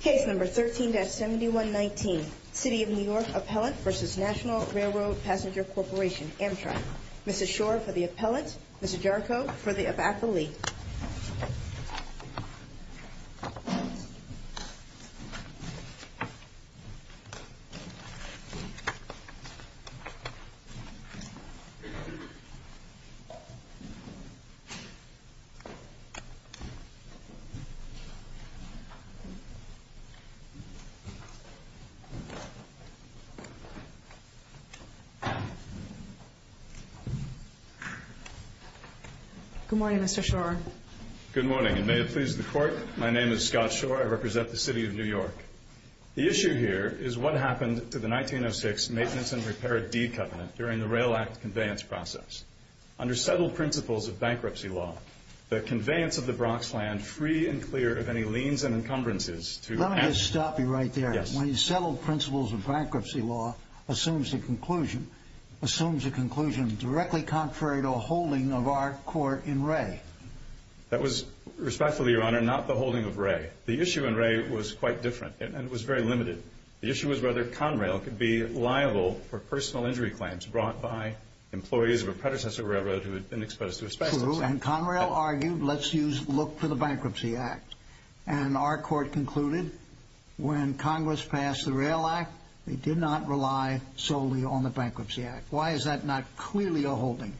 Case No. 13-7119, City of New York Appellant v. National Railroad Passenger Corporation, Amtrak. Mrs. Schor for the Appellant, Mr. Jarko for the Appellant. Good morning, Mr. Schor. Good morning, and may it please the Court, my name is Scott Schor. I represent the City of New York. The issue here is what happened to the 1906 Maintenance and Repair Deed Covenant during the Rail Act conveyance process. Under settled principles of bankruptcy law, the conveyance of the Bronx land free and clear of any liens and encumbrances to... Let me just stop you right there. Yes. When you settled principles of bankruptcy law assumes a conclusion, assumes a conclusion directly contrary to a holding of our court in Ray. That was respectfully, Your Honor, not the holding of Ray. The issue in Ray was quite different, and it was very limited. The issue was whether Conrail could be liable for personal injury claims brought by employees of a predecessor railroad who And Conrail argued, let's use, look for the Bankruptcy Act. And our court concluded when Congress passed the Rail Act, they did not rely solely on the Bankruptcy Act. Why is that not clearly a holding?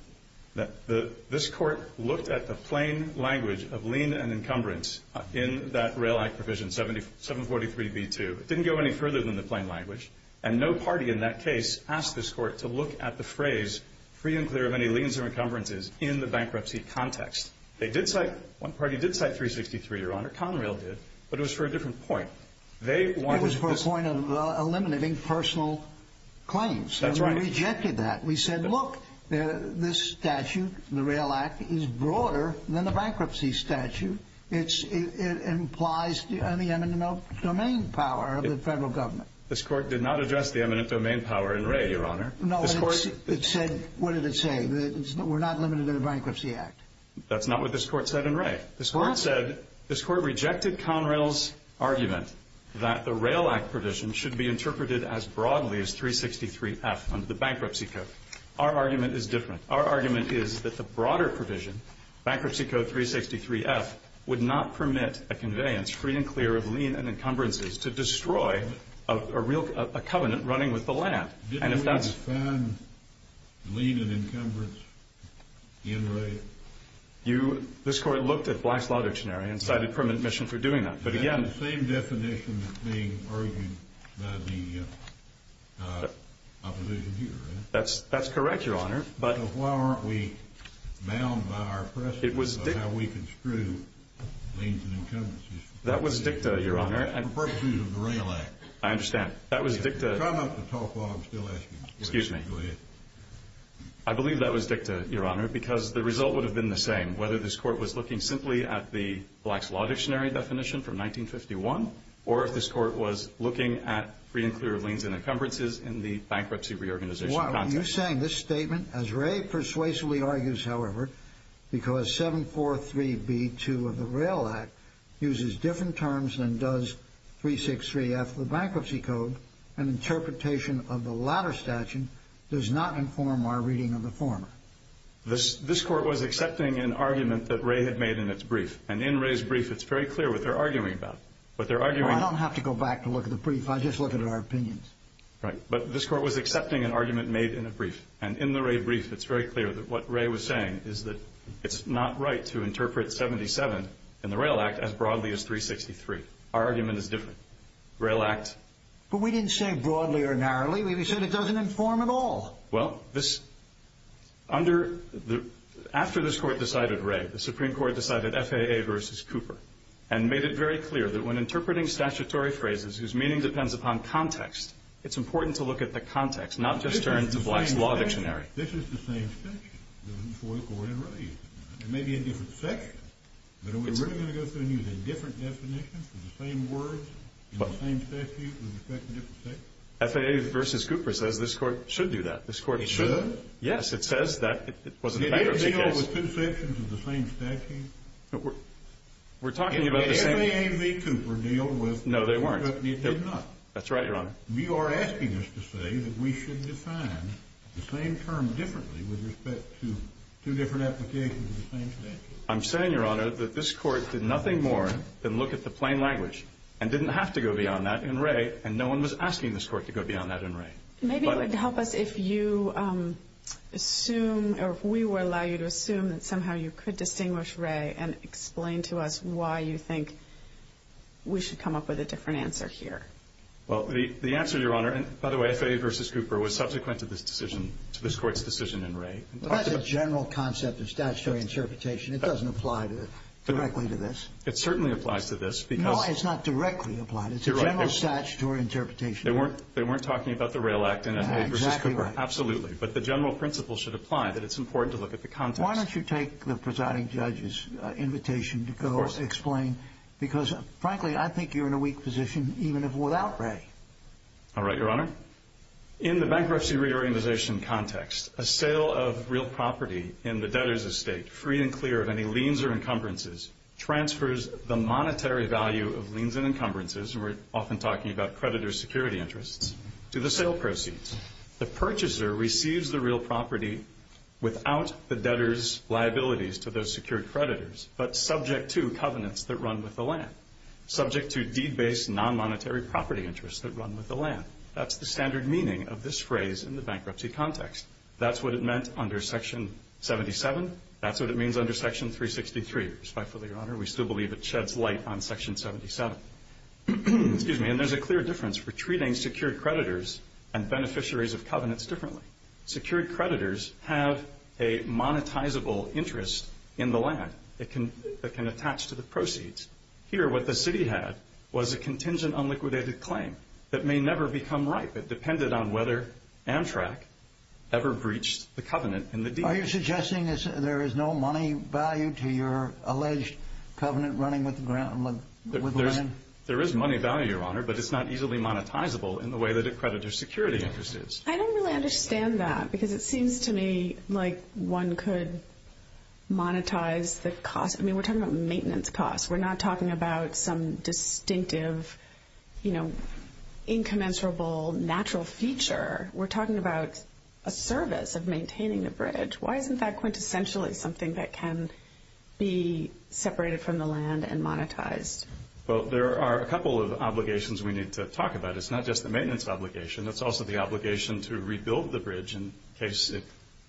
This court looked at the plain language of lien and encumbrance in that Rail Act provision 743B2. It didn't go any further than the plain language, and no party in that case asked this court to look at the phrase free and clear of any liens and encumbrances in the bankruptcy context. They did cite, one party did cite 363, Your Honor. Conrail did, but it was for a different point. They wanted... It was for a point of eliminating personal claims. That's right. We rejected that. We said, look, this statute, the Rail Act, is broader than the bankruptcy statute. It's, it implies the eminent domain power of the federal government. This court did not address the eminent domain power in the bankruptcy act. That's not what this court said in Ray. This court said, this court rejected Conrail's argument that the Rail Act provision should be interpreted as broadly as 363F under the bankruptcy code. Our argument is different. Our argument is that the broader provision, Bankruptcy Code 363F, would not permit a conveyance free and clear of lien and encumbrances to destroy a real, a covenant running with the land. And if that's... Lien and encumbrance in Ray. You, this court looked at Black's Lauderdale scenario and cited permanent mission for doing that. But again... Is that the same definition that's being argued by the opposition here, right? That's, that's correct, Your Honor, but... So why aren't we bound by our precedent of how we construe liens and encumbrances? That was dicta, Your Honor. In the pursuit of the Rail Act. I understand. That was dicta... I believe that was dicta, Your Honor, because the result would have been the same, whether this court was looking simply at the Black's Lauderdale scenario definition from 1951, or if this court was looking at free and clear of liens and encumbrances in the bankruptcy reorganization context. You're saying this statement, as Ray persuasively argues, however, because 743B2 of the Rail Act uses different terms than does 363F, the Bankruptcy Code and interpretation of the latter statute does not inform our reading of the former. This, this court was accepting an argument that Ray had made in its brief. And in Ray's brief, it's very clear what they're arguing about. What they're arguing... I don't have to go back to look at the brief. I just look at our opinions. Right. But this court was accepting an argument made in a brief. And in the Ray brief, it's very clear that what Ray was saying is that it's not right to interpret 77 in the Rail Act as broadly as 363. Our argument is different. Rail Act... But we didn't say broadly or narrowly. We said it doesn't inform at all. Well, this... Under the... After this court decided Ray, the Supreme Court decided FAA versus Cooper, and made it very clear that when interpreting statutory phrases whose meaning depends upon context, it's important to look at the context, not just turn to Black's Law Dictionary. This is the same section for the court in Ray. It may be a different section, but are we really going to go through and use a different definition for the same words in the same statute with respect to different sections? FAA versus Cooper says this court should do that. This court should. It should? Yes. It says that. It wasn't a bankruptcy case. Did they deal with two sections of the same statute? We're talking about the same... Did FAA and V. Cooper deal with... No, they weren't. That's right, Your Honor. You are asking us to say that we should define the same term differently with respect to two different applications. I'm saying, Your Honor, that this court did nothing more than look at the plain language, and didn't have to go beyond that in Ray, and no one was asking this court to go beyond that in Ray. Maybe it would help us if you assume, or if we were allowed to assume that somehow you could distinguish Ray and explain to us why you think we should come up with a different answer here. Well, the answer, Your Honor... By the way, FAA versus Cooper was subsequent to this decision, to this court's decision in Ray. That's a general concept of statutory interpretation. It doesn't apply directly to this. It certainly applies to this, because... No, it's not directly applied. It's a general statutory interpretation. They weren't talking about the Rail Act in FAA versus Cooper. Absolutely. But the general principle should apply, that it's important to look at the context. Why don't you take the presiding judge's invitation to go explain, because frankly, I think you're in a weak position, even without Ray. All right, Your Honor. In the bankruptcy reorganization context, a sale of real property in the debtor's estate, free and clear of any liens or encumbrances, transfers the monetary value of liens and encumbrances, and we're often talking about creditor security interests, to the sale proceeds. The purchaser receives the real property without the debtor's liabilities to those secured creditors, but subject to covenants that run with the land, subject to deed-based, non-monetary property interests that run with the land. That's the standard meaning of this phrase in the bankruptcy context. That's what it meant under Section 77. That's what it means under Section 363, respectfully, Your Honor. We still believe it sheds light on Section 77. Excuse me. And there's a clear difference for treating secured creditors and beneficiaries of covenants differently. Secured creditors have a monetizable interest in the land that can attach to the proceeds. Here, what the covenants do is they become ripe. It depended on whether Amtrak ever breached the covenant in the deed. Are you suggesting there is no money value to your alleged covenant running with the land? There is money value, Your Honor, but it's not easily monetizable in the way that a creditor's security interest is. I don't really understand that, because it seems to me like one could monetize the cost. I mean, we're talking about maintenance costs. We're not talking about some distinctive, you know, incommensurable natural feature. We're talking about a service of maintaining the bridge. Why isn't that quintessentially something that can be separated from the land and monetized? Well, there are a couple of obligations we need to talk about. It's not just the maintenance obligation. It's also the obligation to rebuild the bridge in case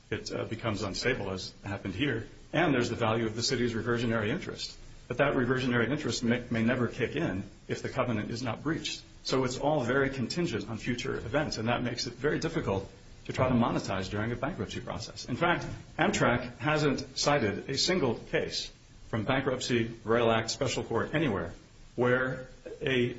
it becomes unstable, as happened here. And then there's the value of the city's reversionary interest. But that reversionary interest may never kick in if the covenant is not breached. So it's all very contingent on future events, and that makes it very difficult to try to monetize during a bankruptcy process. In fact, Amtrak hasn't cited a single case from Bankruptcy, Rail Act, Special Court, anywhere, where the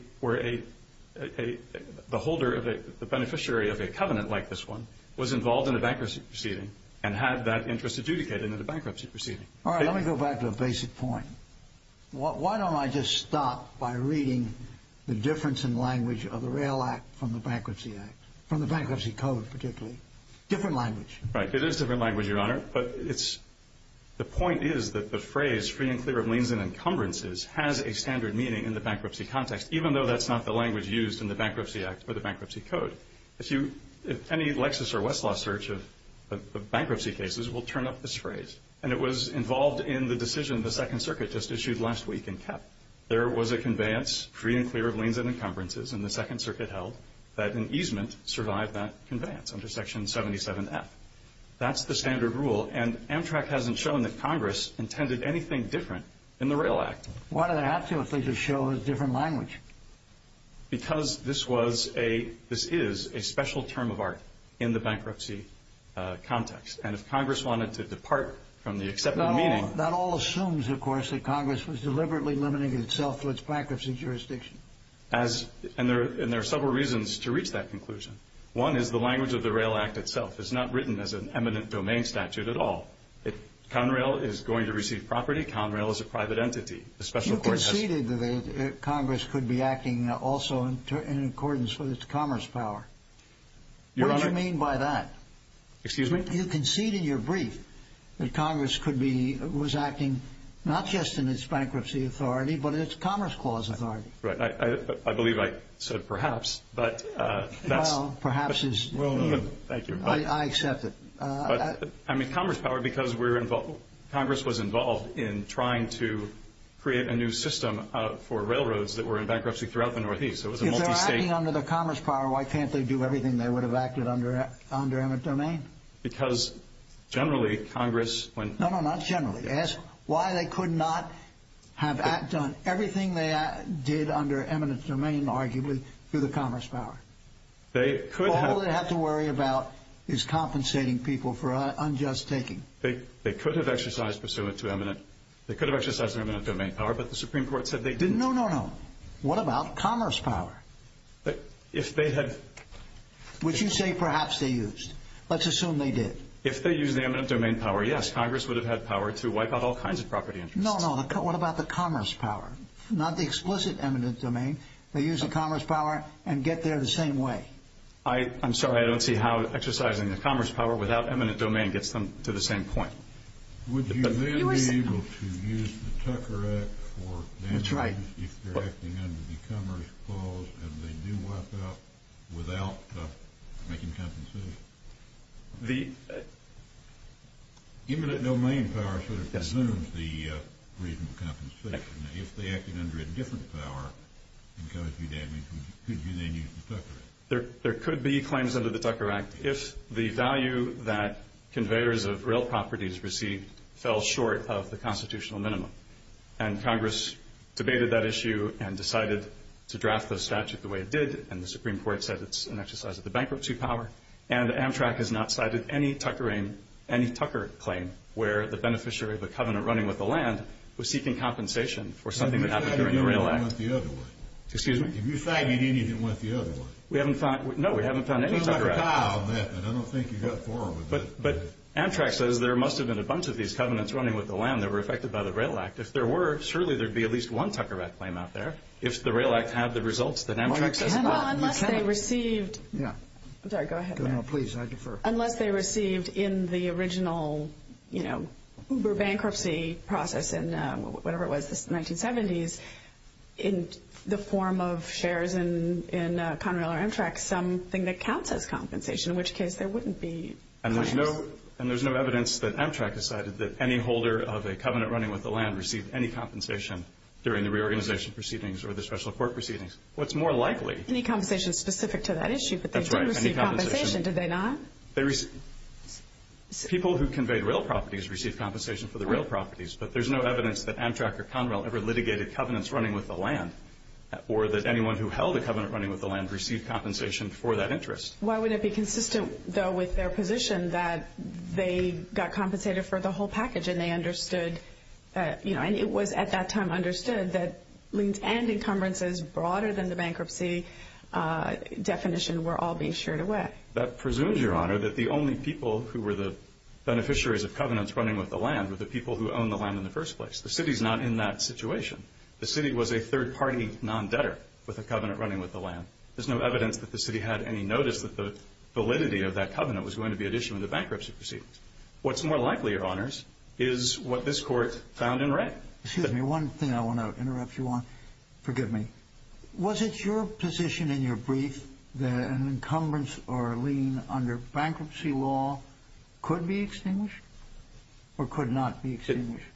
beneficiary of a covenant like this one was involved in a bankruptcy proceeding and had that interest adjudicated in a bankruptcy proceeding. All right. Let me go back to a basic point. Why don't I just stop by reading the difference in language of the Rail Act from the Bankruptcy Act, from the Bankruptcy Code, particularly? Different language. Right. It is different language, Your Honor. But the point is that the phrase free and clear of liens and encumbrances has a standard meaning in the bankruptcy context, even though that's not the language used in the Bankruptcy Act or the Bankruptcy Code. If any Lexis or others will turn up this phrase, and it was involved in the decision the Second Circuit just issued last week in Kepp, there was a conveyance, free and clear of liens and encumbrances, and the Second Circuit held that an easement survived that conveyance under Section 77F. That's the standard rule, and Amtrak hasn't shown that Congress intended anything different in the Rail Act. Why do they have to if they just show a different language? Because this is a special term of art in the bankruptcy context. And if Congress wanted to depart from the accepted meaning... That all assumes, of course, that Congress was deliberately limiting itself to its bankruptcy jurisdiction. And there are several reasons to reach that conclusion. One is the language of the Rail Act itself is not written as an eminent domain statute at all. Conrail is going to receive property. Conrail is a private entity. You conceded that Congress could be acting also in accordance with its Commerce Power. What do you mean by that? Excuse me? You conceded in your brief that Congress was acting not just in its bankruptcy authority, but its Commerce Clause authority. Right. I believe I said perhaps, but that's... Well, perhaps is you. Thank you. I accept it. I mean, Commerce Power, because Congress was involved in trying to create a new system for railroads that were in bankruptcy throughout the Northeast. If they're acting under the Commerce Power, why can't they do everything they would have acted under eminent domain? Because generally, Congress... No, no, not generally. Ask why they could not have acted on everything they did under eminent domain, arguably, through the Commerce Power. They could have... Commerce Power is compensating people for unjust taking. They could have exercised pursuant to eminent... They could have exercised their eminent domain power, but the Supreme Court said they didn't... No, no, no. What about Commerce Power? If they had... Which you say perhaps they used. Let's assume they did. If they used the eminent domain power, yes, Congress would have had power to wipe out all kinds of property interests. No, no. What about the Commerce Power? Not the explicit eminent domain. They used the Commerce Power and get there the same way. I'm sorry. I don't see how exercising the Commerce Power without eminent domain gets them to the same point. Would you then be able to use the Tucker Act for damages if they're acting under the Commerce Power and they do wipe out without making compensation? Eminent domain power sort of presumes the reasonable compensation. If they acted under a different power and caused you damage, could you then use the Tucker Act? There could be claims under the Tucker Act if the value that conveyors of real properties received fell short of the constitutional minimum. And Congress debated that issue and decided to draft the statute the way it did. And the Supreme Court said it's an exercise of the bankruptcy power. And Amtrak has not cited any Tucker claim where the beneficiary of a covenant running with the land was seeking compensation for something that happened during the Rail Act. Excuse me? Have you cited anything with the other one? No, we haven't found any Tucker Act. I don't think you've got four of them. But Amtrak says there must have been a bunch of these covenants running with the land that were affected by the Rail Act. If there were, surely there'd be at least one Tucker Act claim out there. If the Rail Act had the results, then Amtrak says not. Unless they received... Sorry, go ahead. Unless they received in the original, you know, Uber bankruptcy process in whatever it was, the 1970s, in the form of shares in Conrail or Amtrak, something that counts as compensation, in which case there wouldn't be claims. And there's no evidence that Amtrak has cited that any holder of a covenant running with the land received any compensation during the reorganization proceedings or the special court proceedings. What's more likely... Any compensation specific to that issue, but they did receive compensation, did they not? People who conveyed real properties received compensation for the real properties, but there's no evidence that Amtrak or Conrail ever litigated covenants running with the land or that anyone who held a covenant running with the land received compensation for that interest. Why would it be consistent, though, with their position that they got compensated for the whole package and they understood, you know, and it was at that time understood that liens and encumbrances broader than the bankruptcy definition were all being sheared away? That presumes, Your Honor, that the only people who were the beneficiaries of covenants running with the land were the people who owned the land in the first place. The city's not in that situation. The city was a third-party non-debtor with a covenant running with the land. There's no evidence that the city had any notice that the validity of that covenant was going to be at issue in the bankruptcy proceedings. What's more likely, Your Honors, is what this Court found in Wray. Excuse me, one thing I want to interrupt you on. Forgive me. Was it your position in your brief that an encumbrance or a lien under bankruptcy law could be extinguished or could not be extinguished?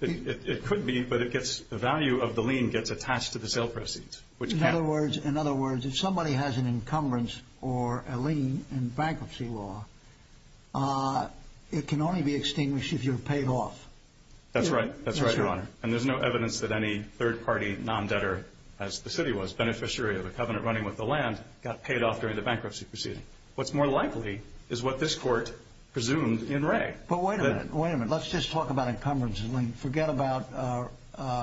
It could be, but the value of the lien gets attached to the sale proceeds. In other words, if somebody has an encumbrance or a lien in bankruptcy law, it can only be extinguished if you're paid off. That's right, Your Honor. And there's no evidence that any third-party non-debtor as the city was, beneficiary of a covenant running with the land, got paid off during the bankruptcy proceedings. What's more likely is what this Court presumed in Wray. But wait a minute. Wait a minute. Let's just talk about encumbrances and liens. Forget about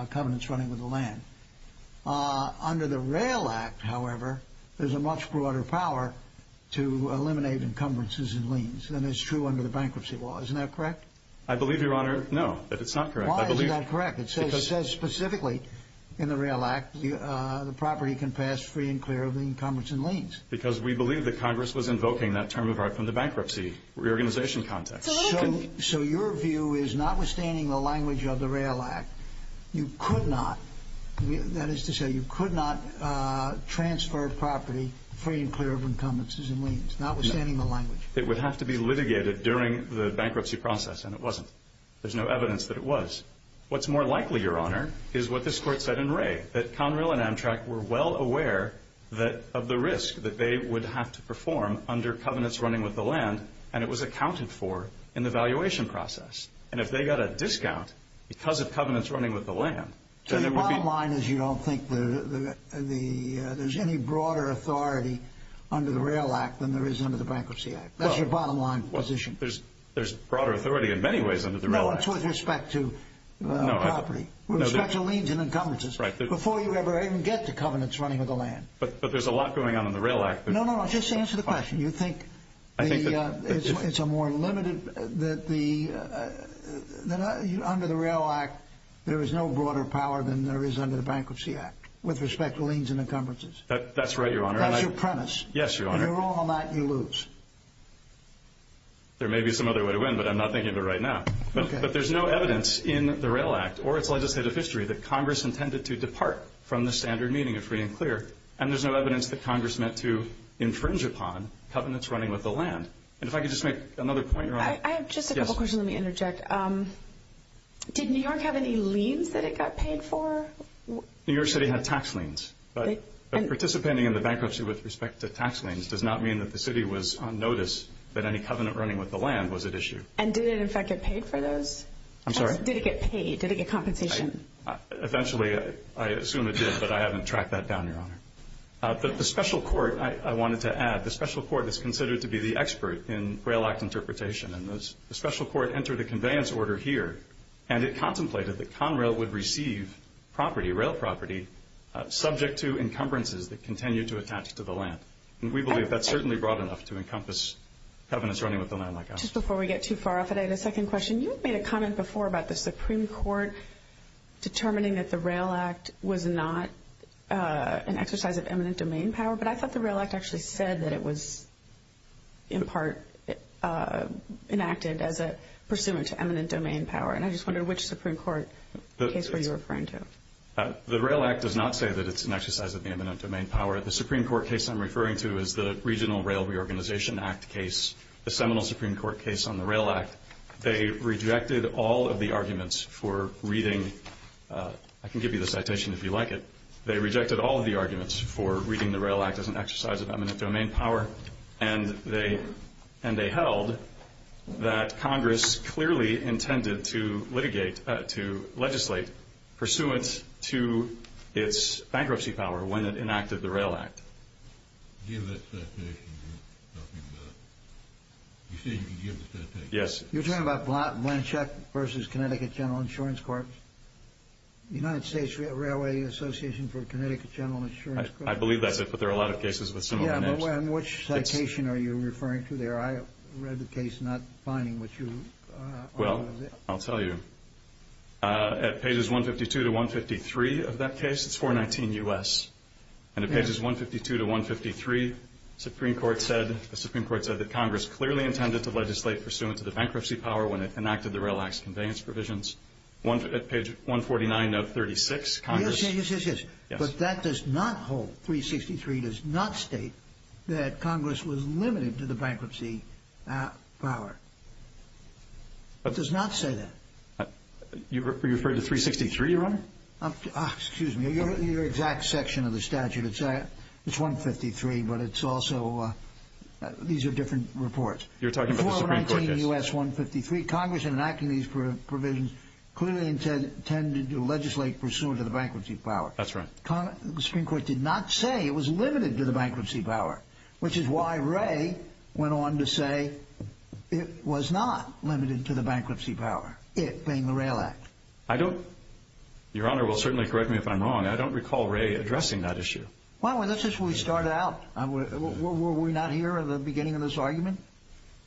covenants running with the land. Under the Rail Act, however, there's a much broader power to eliminate encumbrances and liens than is true under the bankruptcy law. Isn't that correct? I believe, Your Honor, no, that it's not correct. Why isn't that correct? It says specifically in the Rail Act the property can pass free and clear of the encumbrance and liens. Because we believe that Congress was invoking that term of art from the bankruptcy reorganization context. So your view is notwithstanding the language of the Rail Act, you could not, that is to say, you could not transfer property free and clear of encumbrances and liens. Notwithstanding the language. It would have to be litigated during the bankruptcy process and it wasn't. There's no evidence that it was. What's more likely, Your Honor, is what this Court said in Ray, that Conrail and Amtrak were well aware of the risk that they would have to perform under covenants running with the land and it was accounted for in the valuation process. And if they got a discount because of covenants running with the land, So your bottom line is you don't think there's any broader authority under the Rail Act than there is under the Bankruptcy Act. That's your bottom line position. There's broader authority in many ways under the Rail Act. That's with respect to property. With respect to liens and encumbrances. Before you ever even get to covenants running with the land. But there's a lot going on in the Rail Act. No, no, no. Just answer the question. You think it's a more limited, that the under the Rail Act, there is no broader power than there is under the Bankruptcy Act with respect to liens and encumbrances. That's right, Your Honor. That's your premise. If you're wrong on that, you lose. There may be some other way to win, but I'm not thinking of it right now. But there's no evidence in the Rail Act or its legislative history that Congress intended to depart from the standard meaning of free and clear. And there's no evidence that Congress meant to infringe upon covenants running with the land. And if I could just make another point, Your Honor. I have just a couple questions. Let me interject. Did New York have any liens that it got paid for? New York City had tax liens. But participating in the bankruptcy with respect to tax liens does not mean that the city was on notice that any covenant running with the land was at issue. And did it, in fact, get paid for those? I'm sorry? Did it get paid? Did it get compensation? Eventually, I assume it did, but I haven't tracked that down, Your Honor. The special court, I wanted to add, the special court is considered to be the expert in Rail Act interpretation, and the special court entered a conveyance order here and it contemplated that Conrail would receive property, rail property, subject to encumbrances that continue to attach to the land. And we believe that's certainly broad enough to encompass covenants running with the land like ours. Just before we get too far off today, the second question. You had made a comment before about the Supreme Court determining that the Rail Act was not an exercise of eminent domain power, but I thought the Rail Act actually said that it was in part enacted as a pursuant to eminent domain power. And I just wondered which Supreme Court case were you referring to? The Rail Act does not say that it's an exercise of the eminent domain power. The Supreme Court case I'm referring to is the Regional Rail Reorganization Act case, the Seminole Supreme Court case on the Rail Act. They rejected all of the arguments for reading, I can give you the citation if you like it, they rejected all of the arguments for reading the Rail Act as an exercise of eminent domain power and they held that Congress clearly intended to legislate pursuant to its bankruptcy power when it enacted the Rail Act. Give that citation. You say you can give the citation. Yes. You're talking about Blanchett v. Connecticut General Insurance Corp. United States Railway Association for Connecticut General Insurance Corp. I believe that's it, but there are a lot of cases with similar names. Yeah, but which citation are you referring to there? I read the case not finding what you argue is it. Well, I'll tell you. At pages 152 to 153 of that case it's 419 U.S. And at pages 152 to 153 the Supreme Court said that Congress clearly intended to legislate pursuant to the bankruptcy power when it enacted the Rail Act's conveyance provisions. At page 149 of 36 Congress... Yes, yes, yes, yes. Yes. But that does not hold. 363 does not state that Congress was limited to the bankruptcy power. It does not say that. Were you referring to 363, Your Honor? Excuse me. Your exact section of the statute is 153, but it's also... These are different reports. You're talking about the Supreme Court case. 419 U.S. 153. Congress enacted these provisions clearly intended to legislate pursuant to the bankruptcy power. That's right. The Supreme Court did not say it was limited to the bankruptcy power, which is why Wray went on to say it was not limited to the bankruptcy power, it being the Rail Act. I don't... Your Honor will certainly correct me if I'm wrong. I don't recall Wray addressing that issue. Well, this is where we start out. Were we not here at the beginning of this argument?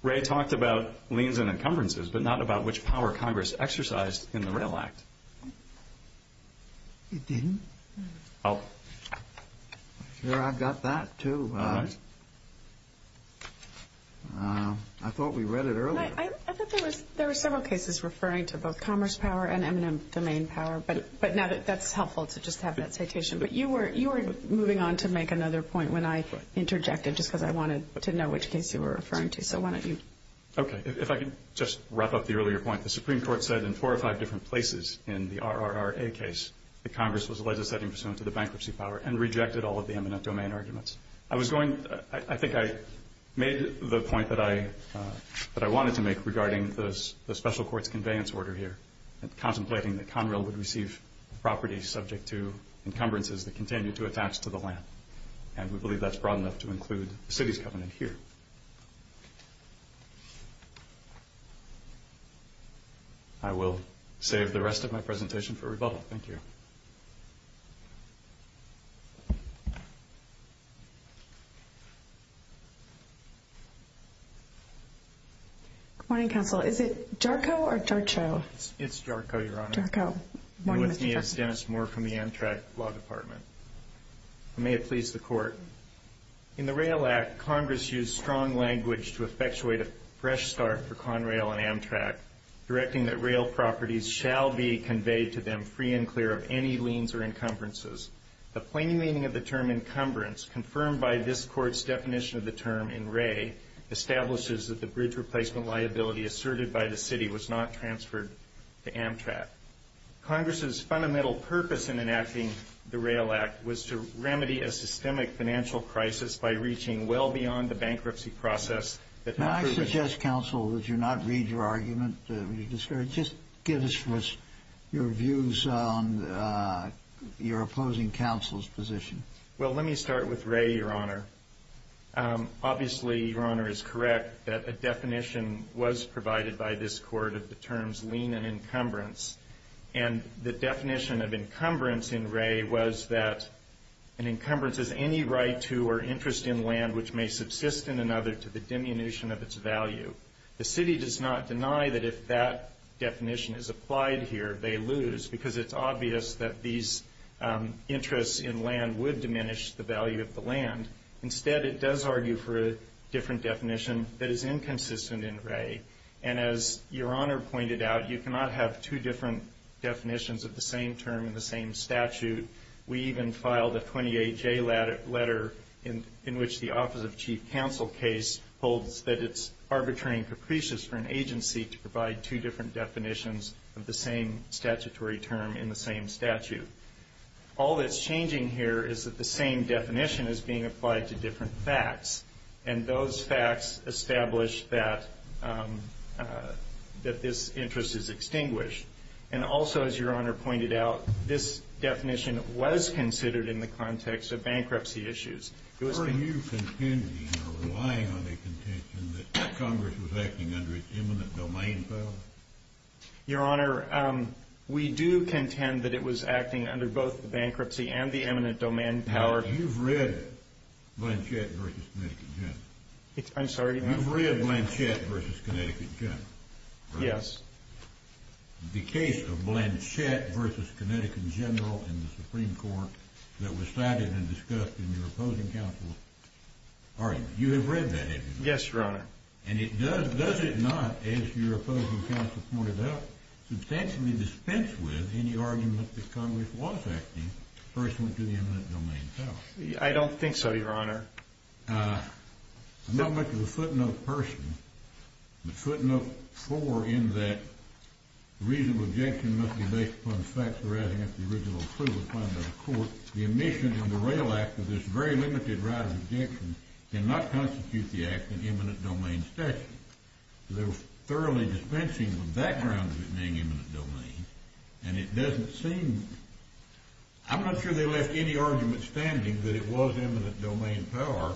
Wray talked about liens and encumbrances, but not about which power Congress exercised in the Rail Act. It didn't? I'm sure I've got that too. All right. I thought we read it earlier. I thought there were several cases referring to both commerce power and eminent domain power, but that's helpful to just have that citation. But you were moving on to make another point when I interjected, just because I wanted to know which case you were referring to. So why don't you... Okay. If I can just wrap up the earlier point. The Supreme Court said in four or five different places in the RRRA case that Congress was legislating pursuant to the bankruptcy power and rejected all of the eminent domain arguments. I think I made the point that I wanted to make regarding the special court's conveyance order here, contemplating that Conrail would receive property subject to encumbrances that continue to attach to the land. And we believe that's broad enough to include the city's covenant here. I will save the rest of my presentation for rebuttal. Thank you. Good morning, Counsel. Is it JARCO or JARCHO? It's JARCHO, Your Honor. JARCHO. You're with me as Dennis Moore from the Amtrak Law Department. May it please the Court. In the RAIL Act, Congress used strong language to effectuate a fresh start for Conrail and Amtrak, directing that rail properties shall be conveyed to them free and clear The plain meaning of the term is that the rail properties shall be conveyed to them free and clear The term encumbrance, confirmed by this Court's definition of the term in Ray, establishes that the bridge replacement liability asserted by the city was not transferred to Amtrak Congress's fundamental purpose in enacting the RAIL Act was to remedy a systemic financial crisis by reaching well beyond the bankruptcy process May I suggest, Counsel, that you not read your argument? Just give us your views on your opposing counsel's position. Well, let me start with Ray, Your Honor. Obviously, Your Honor, is correct that a definition was provided by this Court of the terms lien and encumbrance and the definition of encumbrance in Ray was that an encumbrance is any right to or interest in land which may subsist in another to the diminution of its value The city does not deny that if that definition is applied here, they lose, because it's obvious that these interests in land would diminish the value of the land. Instead, it does argue for a different definition that is inconsistent in Ray. And as Your Honor pointed out, you cannot have two different definitions of the same term in the same statute. We even filed a 28-J letter in which the Office of Chief Counsel case holds that it's arbitrary and capricious for an agency to provide two different definitions of the same statute. All that's changing here is that the same definition is being applied to different facts and those facts establish that that this interest is extinguished. And also, as Your Honor pointed out, this definition was considered in the context of bankruptcy issues. Are you contending or relying on a contention that Congress was acting under its eminent domain power? Your Honor, we do contend that it was acting under both the bankruptcy and the eminent domain power. You've read Blanchett vs. Connecticut General. You've read Blanchett vs. Connecticut General? Yes. The case of Blanchett vs. Connecticut General in the Supreme Court that was cited and discussed in your opposing counsel argument. You have read that, have you not? Yes, Your Honor. And does it not, as your opinion, substantially dispense with any argument that Congress was acting personally to the eminent domain power? I don't think so, Your Honor. I'm not much of a footnote person, but footnote four in that the reasonable objection must be based upon the facts arising from the original proof applied by the Court. The omission in the Rail Act of this very limited right of objection cannot constitute the act in eminent domain statute. They were thoroughly dispensing the background of it being eminent domain and it doesn't seem I'm not sure they left any argument standing that it was eminent domain power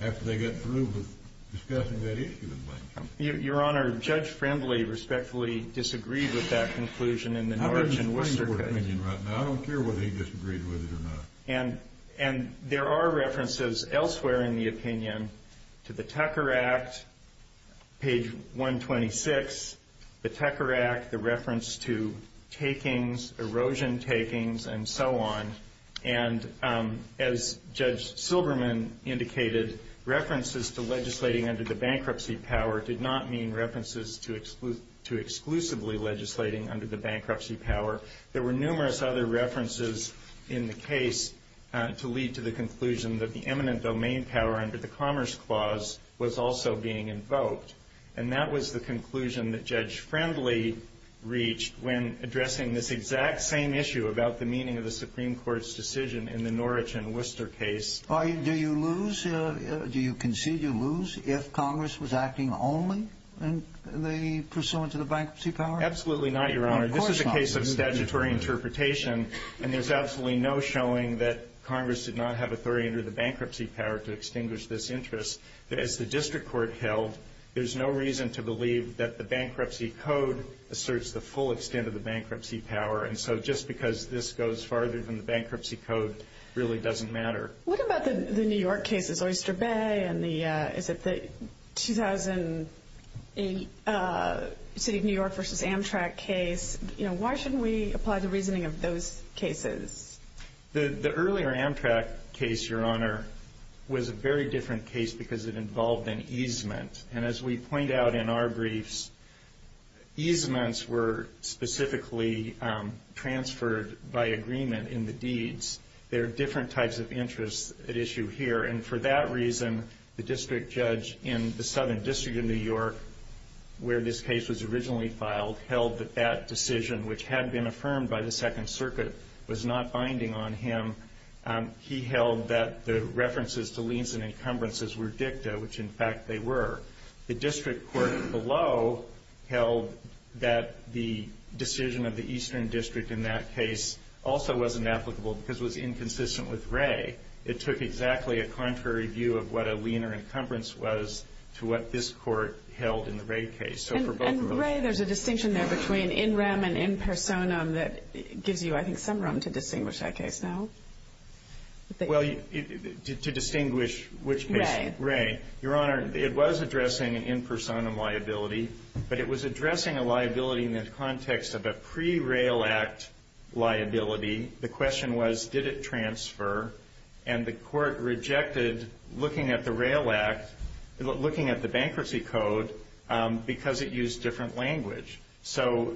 after they got through with discussing that issue with Blanchett. Your Honor, Judge Friendly respectfully disagreed with that conclusion in the Norwich and Worcester case. I don't care whether he disagreed with it or not. And there are references elsewhere in the opinion to the Tucker Act page 126 the Tucker Act the reference to takings erosion takings and so on and as Judge Silberman indicated, references to legislating under the bankruptcy power did not mean references to exclusively legislating under the bankruptcy power. There were numerous other references in the case to lead to the conclusion that the eminent domain power under the bankruptcy power was being invoked and that was the conclusion that Judge Friendly reached when addressing this exact same issue about the meaning of the Supreme Court's decision in the Norwich and Worcester case. Do you lose do you concede you lose if Congress was acting only pursuant to the bankruptcy power? Absolutely not, Your Honor. This is a case of statutory interpretation and there's absolutely no showing that Congress did not have authority under the bankruptcy power to extinguish this interest. As the district court held, there's no reason to believe that the bankruptcy code asserts the full extent of the bankruptcy power and so just because this goes farther than the bankruptcy code really doesn't matter. What about the New York cases, Oyster Bay and is it the 2008 City of New York v. Amtrak case why shouldn't we apply the reasoning of those cases? The earlier Amtrak case, Your Honor, was a very different case because it involved an easement and as we point out in our briefs easements were specifically transferred by agreement in the deeds there are different types of interests at issue here and for that reason the district judge in the southern district of New York where this case was originally filed held that that decision which had been binding on him he held that the references to liens and encumbrances were dicta which in fact they were. The district court below held that the decision of the eastern district in that case also wasn't applicable because it was inconsistent with Wray. It took exactly a contrary view of what a lien or encumbrance was to what this court held in the Wray case. And Wray, there's a distinction there between in rem and in personam that gives you I think some room to distinguish that case now. Well, to distinguish which case. Wray. Your Honor, it was addressing in personam liability, but it was addressing a liability in the context of a pre-rail act liability. The question was did it transfer and the court rejected looking at the rail act, looking at the bankruptcy code because it used different language. So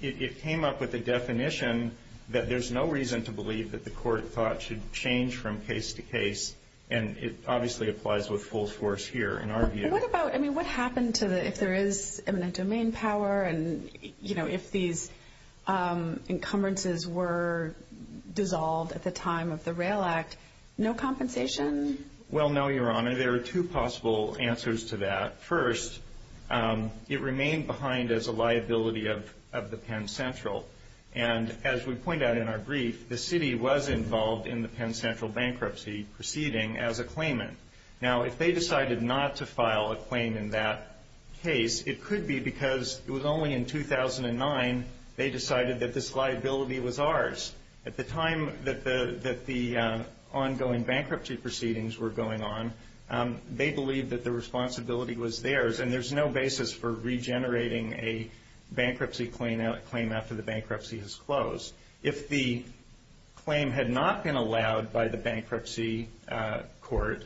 it came up with a definition that there's no reason to believe that the court thought should change from case to case and it obviously applies with full force here in our view. What happened if there is eminent domain power and if these encumbrances were dissolved at the time of the rail act? No compensation? Well, no, Your Honor. There are two possible answers to that. First, it remained behind as a liability of the Penn Central and as we point out in our brief, the city was involved in the Penn Central bankruptcy proceeding as a claimant. Now, if they decided not to file a claim in that case, it could be because it was only in 2009 they decided that this liability was ours. At the time that the ongoing bankruptcy proceedings were going on, they believed that the basis for regenerating a bankruptcy claim after the bankruptcy has closed. If the claim had not been allowed by the bankruptcy court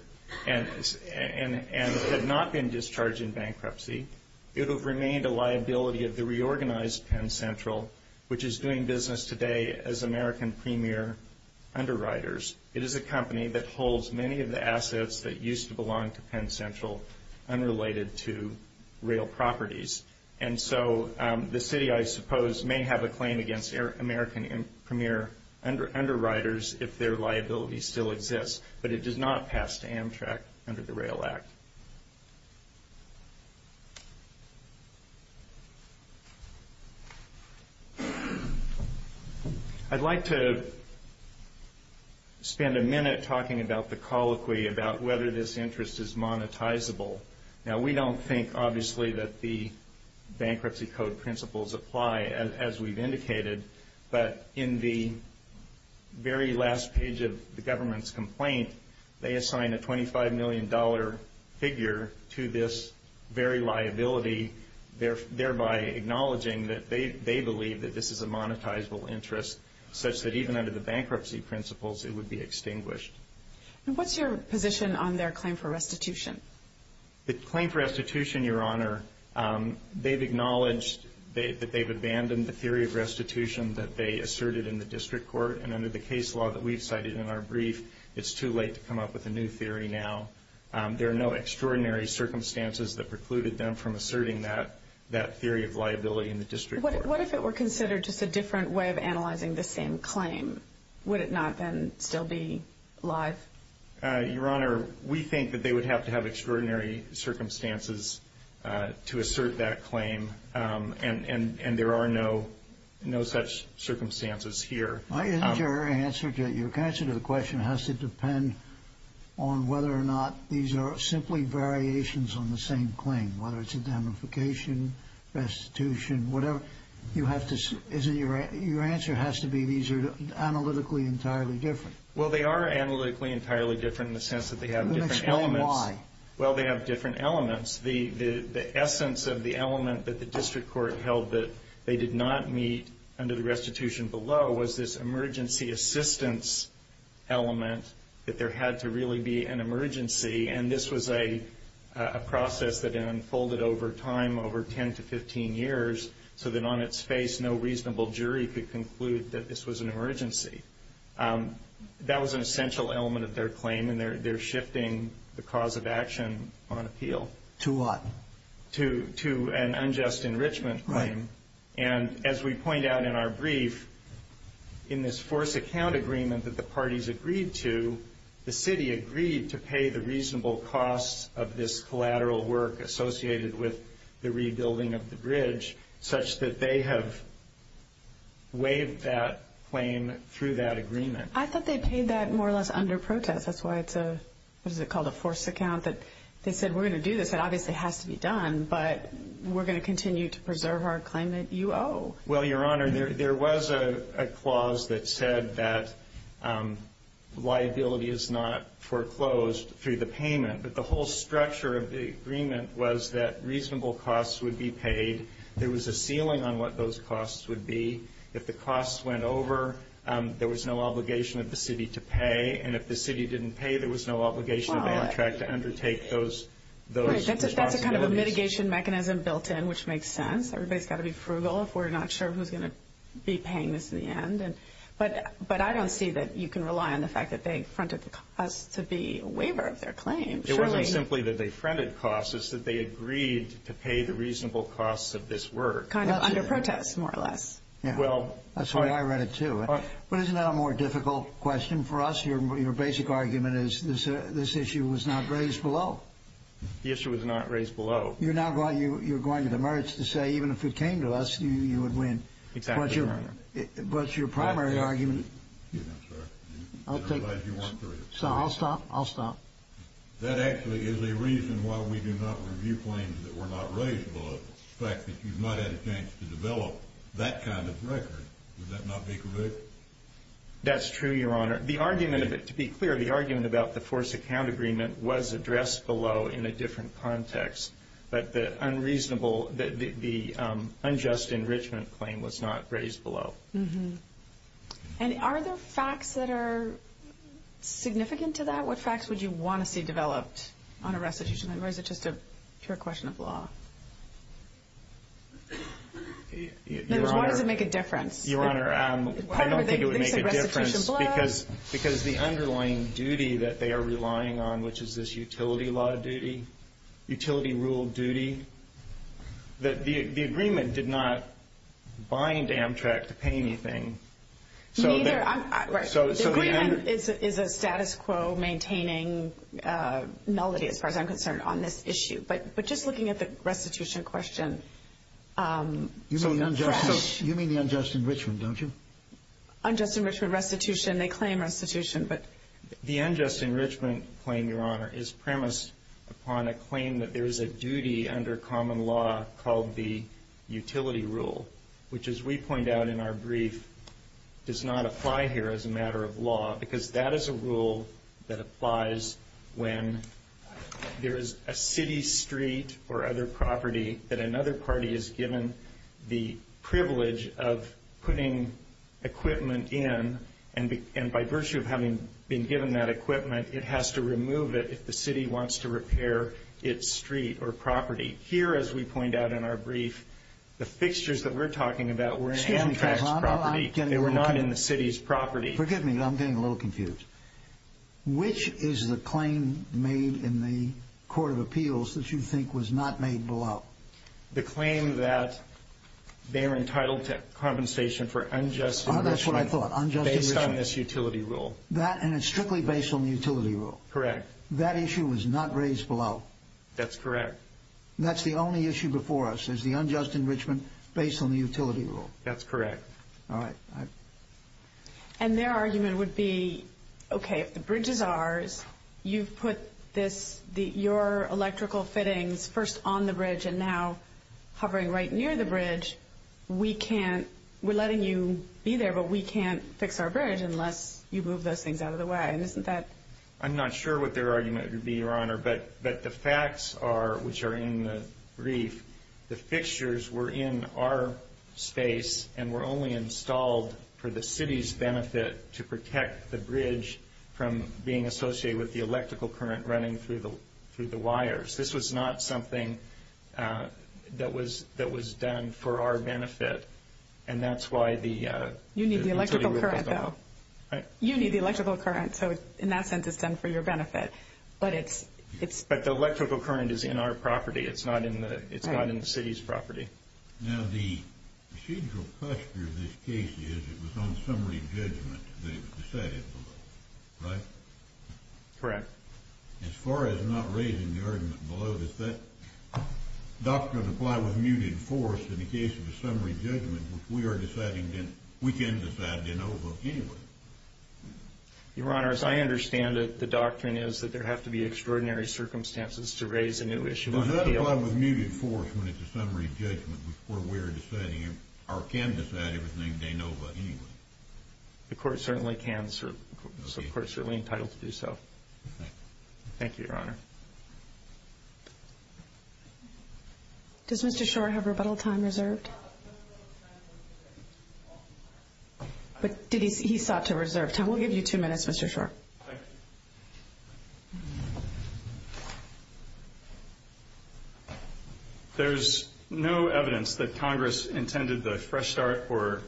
and had not been discharged in bankruptcy, it would have remained a liability of the reorganized Penn Central, which is doing business today as American premier underwriters. It is a company that holds many of the assets that used to belong to Penn Central unrelated to real properties. The city, I suppose, may have a claim against American premier underwriters if their liability still exists, but it does not pass to Amtrak under the Rail Act. I'd like to spend a minute talking about the colloquy about whether this interest is monetizable. Now, we don't think obviously that the bankruptcy code principles apply as we've indicated, but in the very last page of the government's complaint, they assign a $25 million figure to this very liability, thereby acknowledging that they believe that this is a monetizable interest, such that even under the bankruptcy principles, it would be extinguished. What's your position on their claim for restitution? The claim for restitution, Your Honor, they've acknowledged that they've abandoned the theory of restitution that they asserted in the district court, and under the case law that we've cited in our brief, it's too late to come up with a new theory now. There are no extraordinary circumstances that precluded them from asserting that theory of liability in the district court. What if it were considered just a different way of analyzing the same claim? Would it not then still be live? Your Honor, we think that they would have to have extraordinary circumstances to assert that claim, and there are no such circumstances here. Your answer to the question has to depend on whether or not these are simply variations on the same claim, whether it's indemnification, restitution, whatever. Your answer has to be these are analytically entirely different. They are analytically entirely different in the sense that they have different elements. They have different elements. The essence of the element that the district court held that they did not meet under the restitution below was this emergency assistance element that there had to really be an emergency, and this was a process that unfolded over time, over 10 to 15 years, so that on its face no reasonable jury could conclude that this was an emergency. That was an essential element of their claim, and they're shifting the cause of action on appeal. To what? To an unjust enrichment claim, and as we point out in our brief, in this forced account agreement that the parties agreed to, the city agreed to pay the reasonable cost of this collateral work associated with the rebuilding of the bridge, such that they have waived that claim through that agreement. I thought they paid that more or less under protest. That's why it's a what is it called? A forced account that they said we're going to do this. That obviously has to be done, but we're going to continue to preserve our claim that you owe. Well, Your Honor, there was a clause that said that liability is not foreclosed through the structure of the agreement was that reasonable costs would be paid. There was a ceiling on what those costs would be. If the costs went over, there was no obligation of the city to pay, and if the city didn't pay, there was no obligation of Amtrak to undertake those responsibilities. That's a kind of a mitigation mechanism built in, which makes sense. Everybody's got to be frugal if we're not sure who's going to be paying this in the end. But I don't see that you can rely on the fact that they fronted the cost to be a waiver of their claim. It wasn't simply that they fronted costs. It's that they agreed to pay the reasonable costs of this work. Kind of under protest, more or less. That's why I read it, too. But isn't that a more difficult question for us? Your basic argument is this issue was not raised below. The issue was not raised below. You're now going to the merits to say even if it came to us, you would win. Exactly, Your Honor. But your primary argument I'll take this. So I'll stop. I'll stop. That actually is a reason why we do not review claims that were not raised below. The fact that you've not had a chance to develop that kind of record. Would that not be correct? That's true, Your Honor. The argument of it, to be clear, the argument about the force account agreement was addressed below in a different context. But the unreasonable, the unjust enrichment claim was not raised below. And are there facts that are significant to that? What facts would you want to see developed on a restitution? Or is it just a pure question of law? Why does it make a difference? Your Honor, I don't think it would make a difference because the underlying duty that they are relying on, which is this utility law duty, utility rule duty, the agreement did not bind Amtrak to pay anything. Neither. The agreement is a status quo maintaining nullity, as far as I'm concerned, on this issue. But just looking at the restitution question, You mean the unjust enrichment, don't you? Unjust enrichment, restitution, they claim restitution. The unjust enrichment claim, Your Honor, is premised upon a claim that there is a duty under common law called the utility rule. Which, as we point out in our brief, does not apply here as a matter of law, because that is a rule that applies when there is a city street or other property that another party is given the privilege of putting equipment in, and by virtue of having been given that equipment, it has to remove it if the city wants to repair its street or property. Here, as we point out in our brief, the fixtures that we're talking about were in Amtrak's property. They were not in the city's property. Forgive me, I'm getting a little confused. Which is the claim made in the Court of Appeals that you think was not made below? The claim that they're entitled to compensation for unjust enrichment based on this utility rule. And it's strictly based on the utility rule? Correct. That issue was not raised below? That's correct. That's the only issue before us, is the unjust enrichment based on the utility rule? That's correct. And their argument would be, okay, if the bridge is ours, you've put your electrical fittings first on the bridge and now hovering right near the bridge, we can't we're letting you be there, but we can't those things out of the way. I'm not sure what their argument would be, Your Honor, but the facts are, which are in the brief, the fixtures were in our space and were only installed for the city's benefit to protect the bridge from being associated with the electrical current running through the wires. This was not something that was done for our benefit. And that's why the utility rule was on. You need the electrical current, though. You need the electrical current, so in that sense, it's done for your benefit. But the electrical current is in our property. It's not in the city's property. Now, the procedural posture of this case is, it was on summary judgment that it was decided below. Right? Correct. As far as not raising the argument below, does that doctrine apply with muted force in the case of a summary judgment, which we can decide in OVO anyway? Your Honor, as I understand it, the doctrine is that there have to be extraordinary circumstances to raise a new issue. Does that apply with muted force when it's a summary judgment, where we're deciding, or can decide everything in OVO anyway? The court certainly can, so the court is certainly entitled to do so. Thank you, Your Honor. Does Mr. Schor have rebuttal time reserved? He sought to reserve time. We'll give you two minutes, Mr. Schor. Thank you. There's no evidence that Congress intended the fresh start for a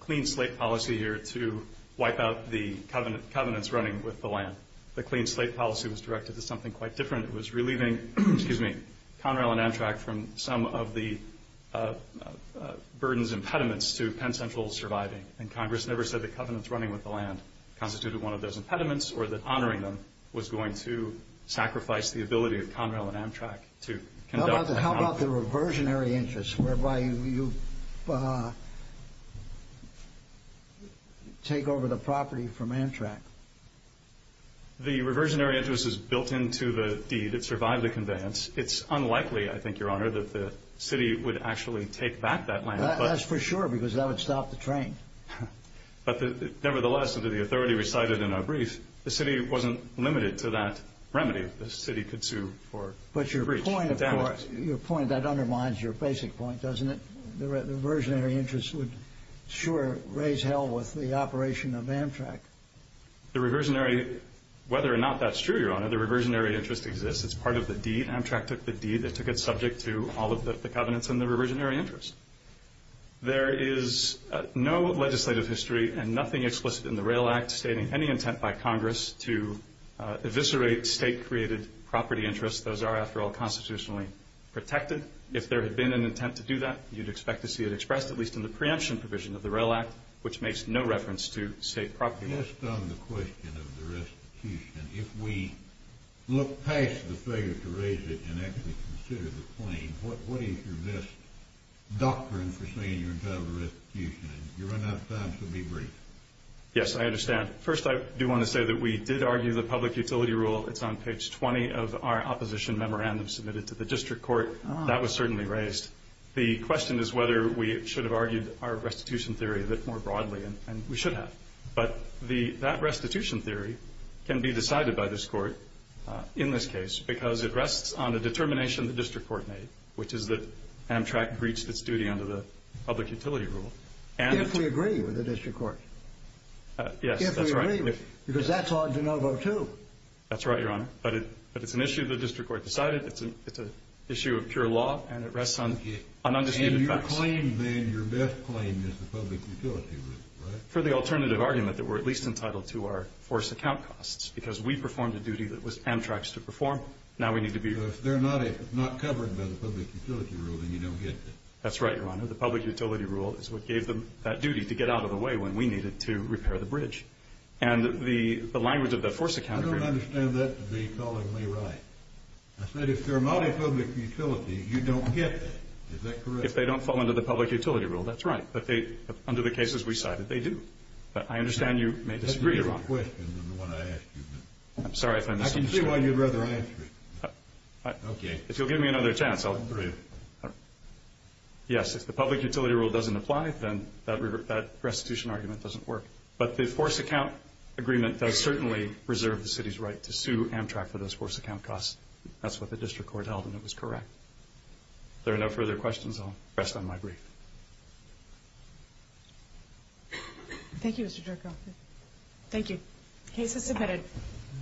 clean slate policy here to wipe out the covenants running with the land. The clean slate policy was directed to something quite different. It was relieving Conrail and Amtrak from some of the burdens, impediments, to Penn Central surviving. And Congress never said the covenants running with the land constituted one of those impediments, or that honoring them was going to sacrifice the ability of Conrail and Amtrak to conduct that policy. How about the reversionary interest, whereby you take over the property from Amtrak? The reversionary interest is built into the deed. It survived the conveyance. It's unlikely, I think, Your Honor, that the city would actually take back that land. That's for sure, because that would stop the train. Nevertheless, as the authority recited in our brief, the city wasn't limited to that remedy. The city could sue for breach. But your point, of course, your point, that undermines your basic point, doesn't it? The reversionary interest would, sure, raise hell with the operation of Amtrak. The reversionary, whether or not that's true, Your Honor, the reversionary interest exists. It's part of the deed. Amtrak took the deed. They took it subject to all of the covenants and the reversionary interest. There is no legislative history and nothing explicit in the Rail Act stating any intent by Congress to eviscerate state-created property interests. Those are, after all, constitutionally protected. If there had been an intent to do that, you'd expect to see it expressed, at least in the preemption provision of the Rail Act, which makes no reference to state property rights. Just on the question of the restitution, if we look past the figure to raise it and actually consider the claim, what is your best doctrine for saying you're entitled to restitution? You're running out of time, so be brief. Yes, I understand. First, I do want to say that we did argue the public utility rule. It's on page 20 of our opposition memorandum submitted to the district court. That was certainly raised. The question is whether we should have argued our restitution theory a bit more broadly, and we should have. But that restitution theory can be decided by this Court in this case because it rests on a determination the district court made, which is that Amtrak breached its duty under the public utility rule. If we agree with the district court. Yes, that's right. If we agree, because that's on DeNovo, too. That's right, Your Honor. But it's an issue the district court decided. It's an issue of pure law, and it rests on undisputed facts. And your claim, then, your best claim is the public utility rule, right? For the alternative argument that we're at least entitled to our force account costs because we performed a duty that was Amtrak's to perform. Now we need to be If they're not covered by the public utility rule, then you don't get that. That's right, Your Honor. The public utility rule is what gave them that duty to get out of the way when we needed to repair the bridge. And the language of the force account I don't understand that to be calling me right. I said if they're a multi-public utility, you don't get that. Is that correct? If they don't fall under the public utility rule, that's right. But under the cases we cited, they do. I understand you may disagree, Your Honor. I'm sorry if I missed something. I can see why you'd rather I answer it. If you'll give me another chance, I'll agree. Yes, if the public utility rule doesn't apply, then that restitution argument doesn't work. But the force account agreement does certainly reserve the city's right to sue Amtrak for those force account costs. That's what the district court held, and it was correct. If there are no further questions, I'll rest on my brief. Thank you, Mr. Jerkoff. Thank you. Case is submitted.